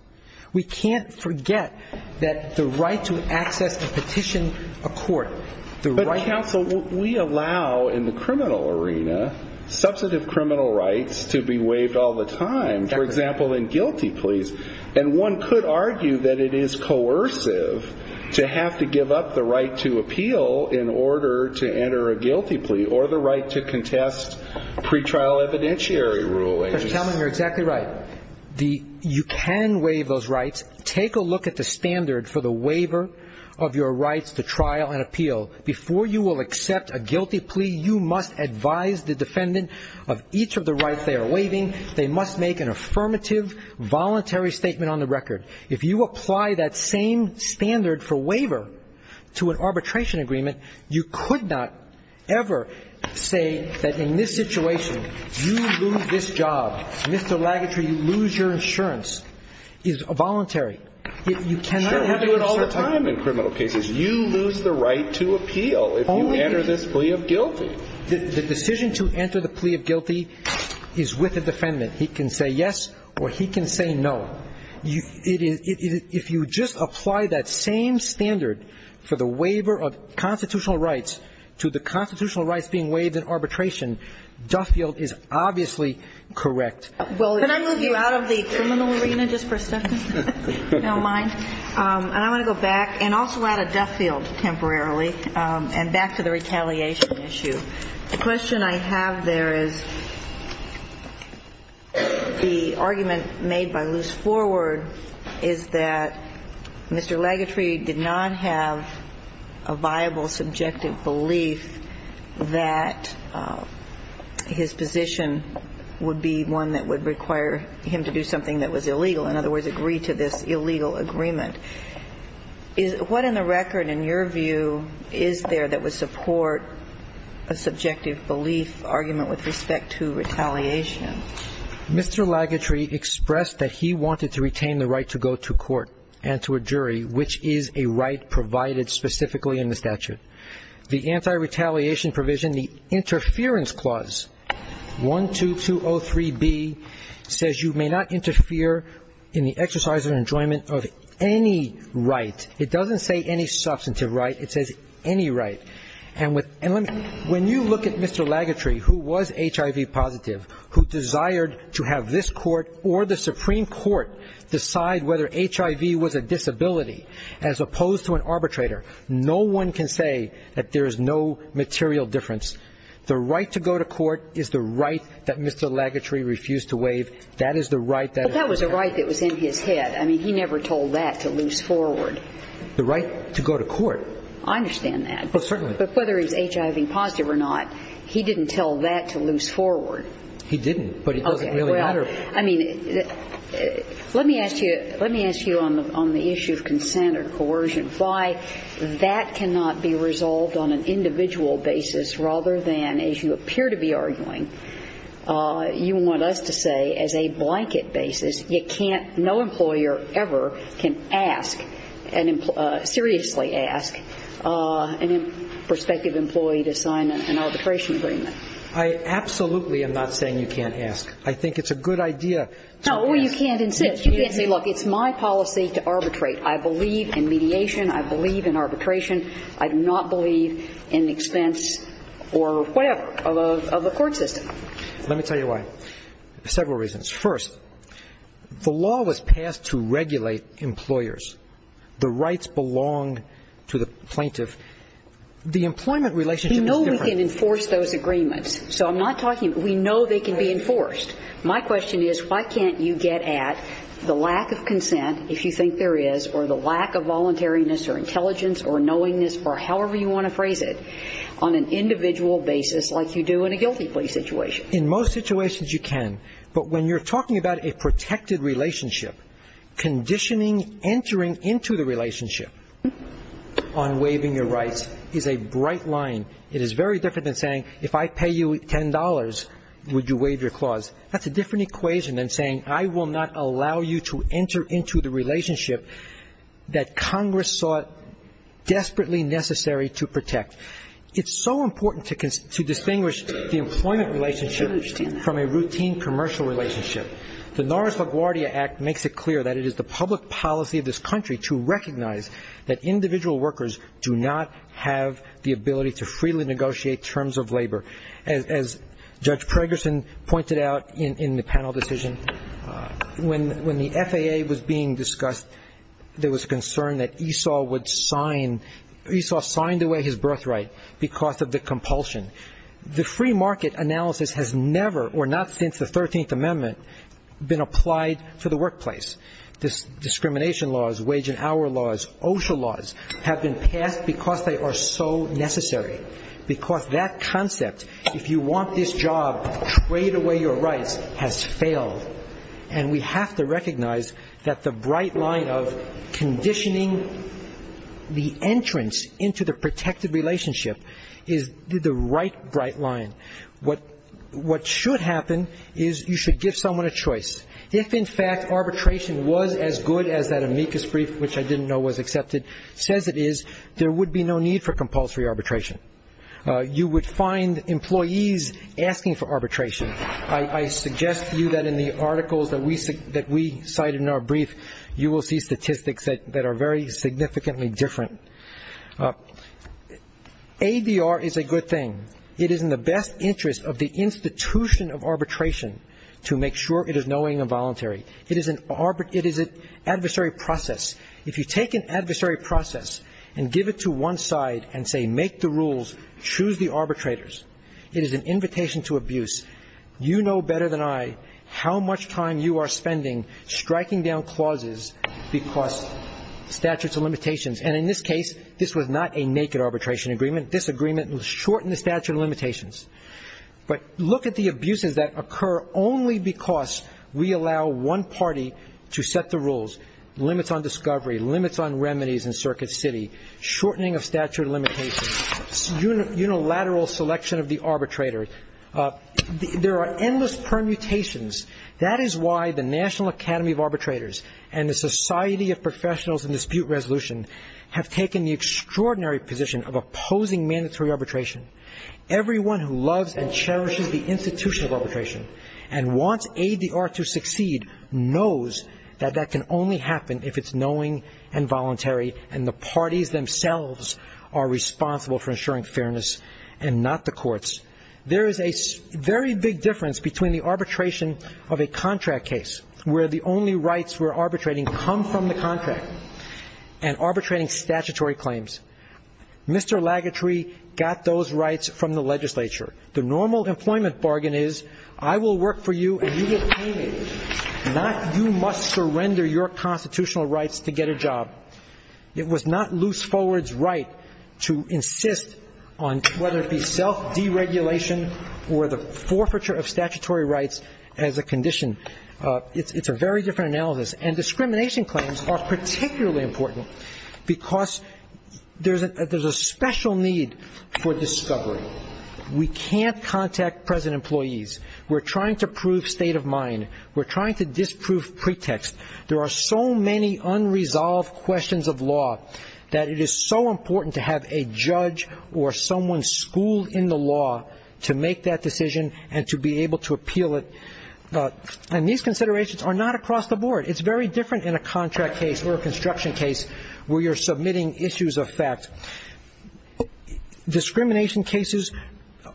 We can't forget that the right to access a petition of court, the right to access a petition of court. But, counsel, we allow in the criminal arena substantive criminal rights to be waived all the time, for example, in guilty pleas. And one could argue that it is coercive to have to give up the right to appeal in order to enter a guilty plea or the right to contest pretrial evidentiary rulings. You're telling me you're exactly right. You can waive those rights. Take a look at the standard for the waiver of your rights to trial and appeal. Before you will accept a guilty plea, you must advise the defendant of each of the rights they are waiving. They must make an affirmative, voluntary statement on the record. If you apply that same standard for waiver to an arbitration agreement, you could not ever say that in this situation you lose this job. Mr. Lagutry, you lose your insurance. It's voluntary. You cannot have it all the time in criminal cases. You lose the right to appeal if you enter this plea of guilty. The decision to enter the plea of guilty is with the defendant. He can say yes or he can say no. If you just apply that same standard for the waiver of constitutional rights to the constitutional rights being waived in arbitration, Duffield is obviously correct. Can I move you out of the criminal arena just for a second? If you don't mind. And I want to go back and also add a Duffield temporarily and back to the retaliation issue. The question I have there is the argument made by Luce Forward is that Mr. Lagutry did not have a viable subjective belief that his position would be one that would require him to do something that was illegal, in other words, agree to this illegal agreement. What in the record, in your view, is there that would support a subjective belief argument with respect to retaliation? Mr. Lagutry expressed that he wanted to retain the right to go to court and to a jury, which is a right provided specifically in the statute. The anti-retaliation provision, the interference clause, 12203B, says you may not interfere in the exercise and enjoyment of any right. It doesn't say any substantive right. It says any right. And when you look at Mr. Lagutry, who was HIV positive, who desired to have this court or the Supreme Court decide whether HIV was a disability as opposed to an arbitrator, no one can say that there is no material difference. The right to go to court is the right that Mr. Lagutry refused to waive. That is the right that is required. But that was a right that was in his head. I mean, he never told that to Luce Forward. The right to go to court. I understand that. Well, certainly. But whether he's HIV positive or not, he didn't tell that to Luce Forward. He didn't, but he doesn't really matter. I mean, let me ask you on the issue of consent or coercion, why that cannot be resolved on an individual basis rather than, as you appear to be arguing, you want us to say as a blanket basis, you can't, no employer ever can ask, seriously ask, a prospective employee to sign an arbitration agreement. I absolutely am not saying you can't ask. I think it's a good idea to ask. No, or you can't insist. You can't say, look, it's my policy to arbitrate. I believe in mediation. I believe in arbitration. I do not believe in expense or whatever of a court system. Let me tell you why. Several reasons. First, the law was passed to regulate employers. The rights belong to the plaintiff. The employment relationship is different. We know we can enforce those agreements. So I'm not talking we know they can be enforced. My question is why can't you get at the lack of consent, if you think there is, or the lack of voluntariness or intelligence or knowingness or however you want to phrase it on an individual basis like you do in a guilty plea situation. In most situations you can, but when you're talking about a protected relationship, conditioning entering into the relationship on waiving your rights is a bright line. It is very different than saying if I pay you $10, would you waive your clause. That's a different equation than saying I will not allow you to enter into the relationship that Congress saw desperately necessary to protect. It's so important to distinguish the employment relationship from a routine commercial relationship. The Norris-LaGuardia Act makes it clear that it is the public policy of this country to recognize that individual workers do not have the ability to freely negotiate terms of labor. As Judge Pregerson pointed out in the panel decision, when the FAA was being discussed, there was concern that Esau would sign, Esau signed away his birthright because of the compulsion. The free market analysis has never or not since the 13th Amendment been applied to the workplace. Discrimination laws, wage and hour laws, OSHA laws have been passed because they are so necessary. Because that concept, if you want this job, trade away your rights, has failed. And we have to recognize that the bright line of conditioning the entrance into the protected relationship is the right bright line. What should happen is you should give someone a choice. If, in fact, arbitration was as good as that amicus brief, which I didn't know was accepted, says it is, there would be no need for compulsory arbitration. You would find employees asking for arbitration. I suggest to you that in the articles that we cited in our brief, you will see statistics that are very significantly different. ADR is a good thing. It is in the best interest of the institution of arbitration to make sure it is knowing and voluntary. It is an adversary process. If you take an adversary process and give it to one side and say make the rules, choose the arbitrators, it is an invitation to abuse. You know better than I how much time you are spending striking down clauses because of statutes of limitations. And in this case, this was not a naked arbitration agreement. This agreement shortened the statute of limitations. But look at the abuses that occur only because we allow one party to set the rules, limits on discovery, limits on remedies in circuit city, shortening of statute of limitations, unilateral selection of the arbitrator. There are endless permutations. That is why the National Academy of Arbitrators and the Society of Professionals in Dispute Resolution have taken the extraordinary position of opposing mandatory arbitration. Everyone who loves and cherishes the institution of arbitration and wants ADR to succeed knows that that can only happen if it is knowing and voluntary and the parties themselves are responsible for ensuring fairness and not the courts. There is a very big difference between the arbitration of a contract case where the only rights we're arbitrating come from the contract and arbitrating statutory claims. Mr. Lagutry got those rights from the legislature. The normal employment bargain is I will work for you and you get paid. Not you must surrender your constitutional rights to get a job. It was not Loose Forward's right to insist on whether it be self-deregulation or the forfeiture of statutory rights as a condition. It's a very different analysis. And discrimination claims are particularly important because there's a special need for discovery. We can't contact present employees. We're trying to prove state of mind. We're trying to disprove pretext. There are so many unresolved questions of law that it is so important to have a judge or someone schooled in the law to make that decision and to be able to appeal it. And these considerations are not across the board. It's very different in a contract case or a construction case where you're submitting issues of fact. Discrimination cases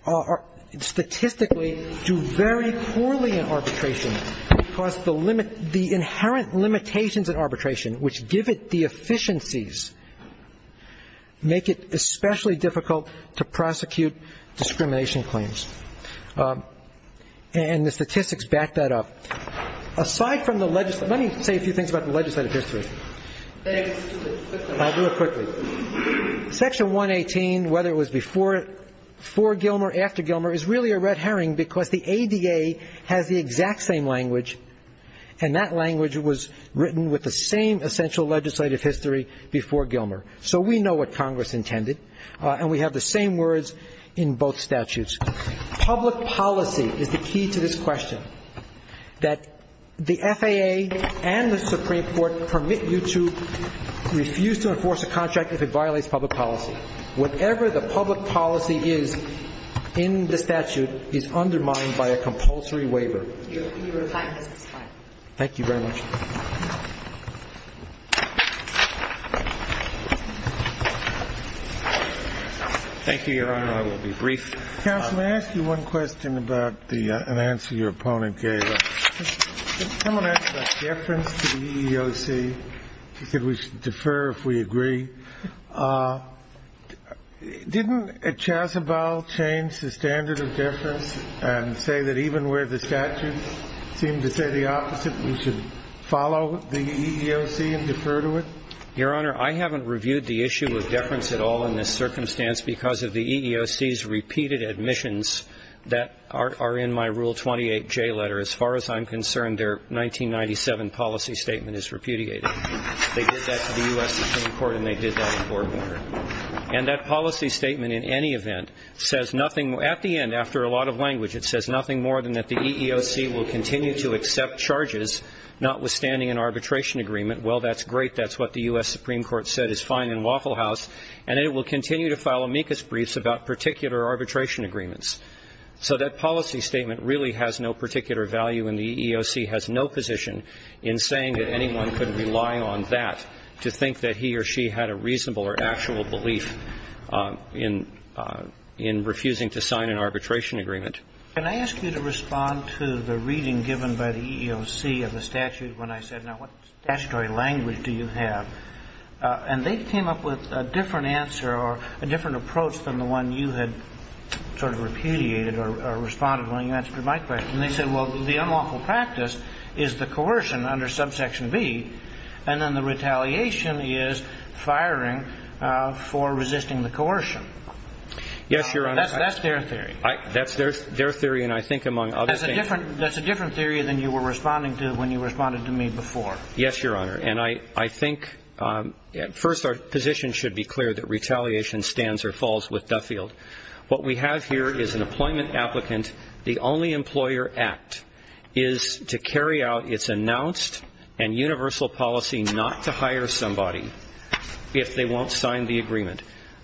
are statistically due very poorly in arbitration because the limit limitations in arbitration which give it the efficiencies make it especially difficult to prosecute discrimination claims. And the statistics back that up. Aside from the legislature, let me say a few things about the legislative history. I'll do it quickly. Section 118, whether it was before Gilmer, after Gilmer, is really a red herring because the ADA has the exact same language and that language was written with the same essential legislative history before Gilmer. So we know what Congress intended and we have the same words in both statutes. Public policy is the key to this question. That the FAA and the Supreme Court permit you to refuse to enforce a contract if it violates public policy. Whatever the public policy is in the statute is undermined by a compulsory waiver. Your time has expired. Thank you very much. Thank you, Your Honor. I will be brief. Counsel, may I ask you one question about the answer your opponent gave us? Someone asked about deference to the EEOC. She said we should defer if we agree. Didn't Chazabal change the standard of deference and say that even where the statutes seem to say the opposite, we should follow the EEOC and defer to it? Your Honor, I haven't reviewed the issue of deference at all in this circumstance because of the EEOC's repeated admissions that are in my Rule 28J letter. As far as I'm concerned, their 1997 policy statement is repudiated. They did that to the U.S. Supreme Court and they did that in court. And that policy statement in any event says nothing at the end, after a lot of language, it says nothing more than that the EEOC will continue to accept charges notwithstanding an arbitration agreement. Well, that's great. That's what the U.S. Supreme Court said is fine in Waffle House, and it will continue to file amicus briefs about particular arbitration agreements. So that policy statement really has no particular value and the EEOC has no position in saying that anyone could rely on that to think that he or she had a reasonable or actual belief in refusing to sign an arbitration agreement. Can I ask you to respond to the reading given by the EEOC of the statute when I said, now, what statutory language do you have? And they came up with a different answer or a different approach than the one you had sort of repudiated or responded when you answered my question. And they said, well, the unlawful practice is the coercion under subsection B and then the retaliation is firing for resisting the coercion. Yes, Your Honor. That's their theory. That's their theory and I think among other things. That's a different theory than you were responding to when you responded to me before. Yes, Your Honor. And I think first our position should be clear that retaliation stands or falls with Duffield. What we have here is an employment applicant. The only employer act is to carry out its announced and universal policy not to hire somebody if they won't sign the agreement.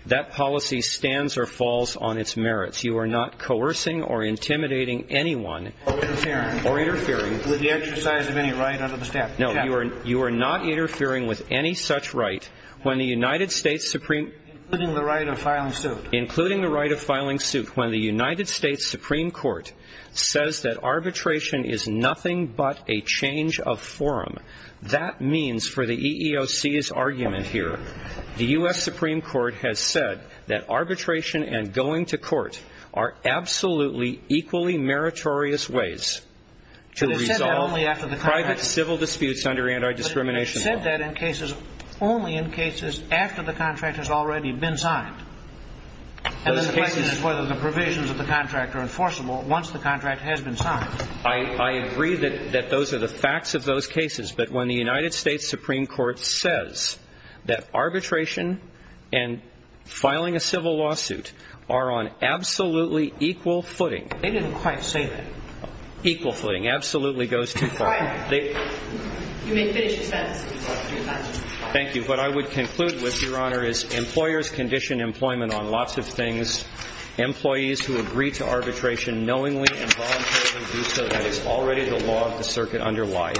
That policy stands or falls on its merits. You are not coercing or intimidating anyone. Or interfering. Or interfering. With the exercise of any right under the statute. No, you are not interfering with any such right when the United States Supreme Court Including the right of filing suit. Including the right of filing suit. When the United States Supreme Court says that arbitration is nothing but a change of forum, that means for the EEOC's argument here, the U.S. Supreme Court has said that arbitration and going to court are absolutely equally meritorious ways to resolve private civil disputes under anti-discrimination law. They said that in cases, only in cases after the contract has already been signed. And then the question is whether the provisions of the contract are enforceable once the contract has been signed. I agree that those are the facts of those cases. But when the United States Supreme Court says that arbitration and filing a civil lawsuit are on absolutely equal footing. They didn't quite say that. Equal footing absolutely goes too far. You may finish your sentence. Thank you. What I would conclude with, Your Honor, is employers condition employment on lots of things. Employees who agree to arbitration knowingly and voluntarily do so. That is already the law of the circuit underlied.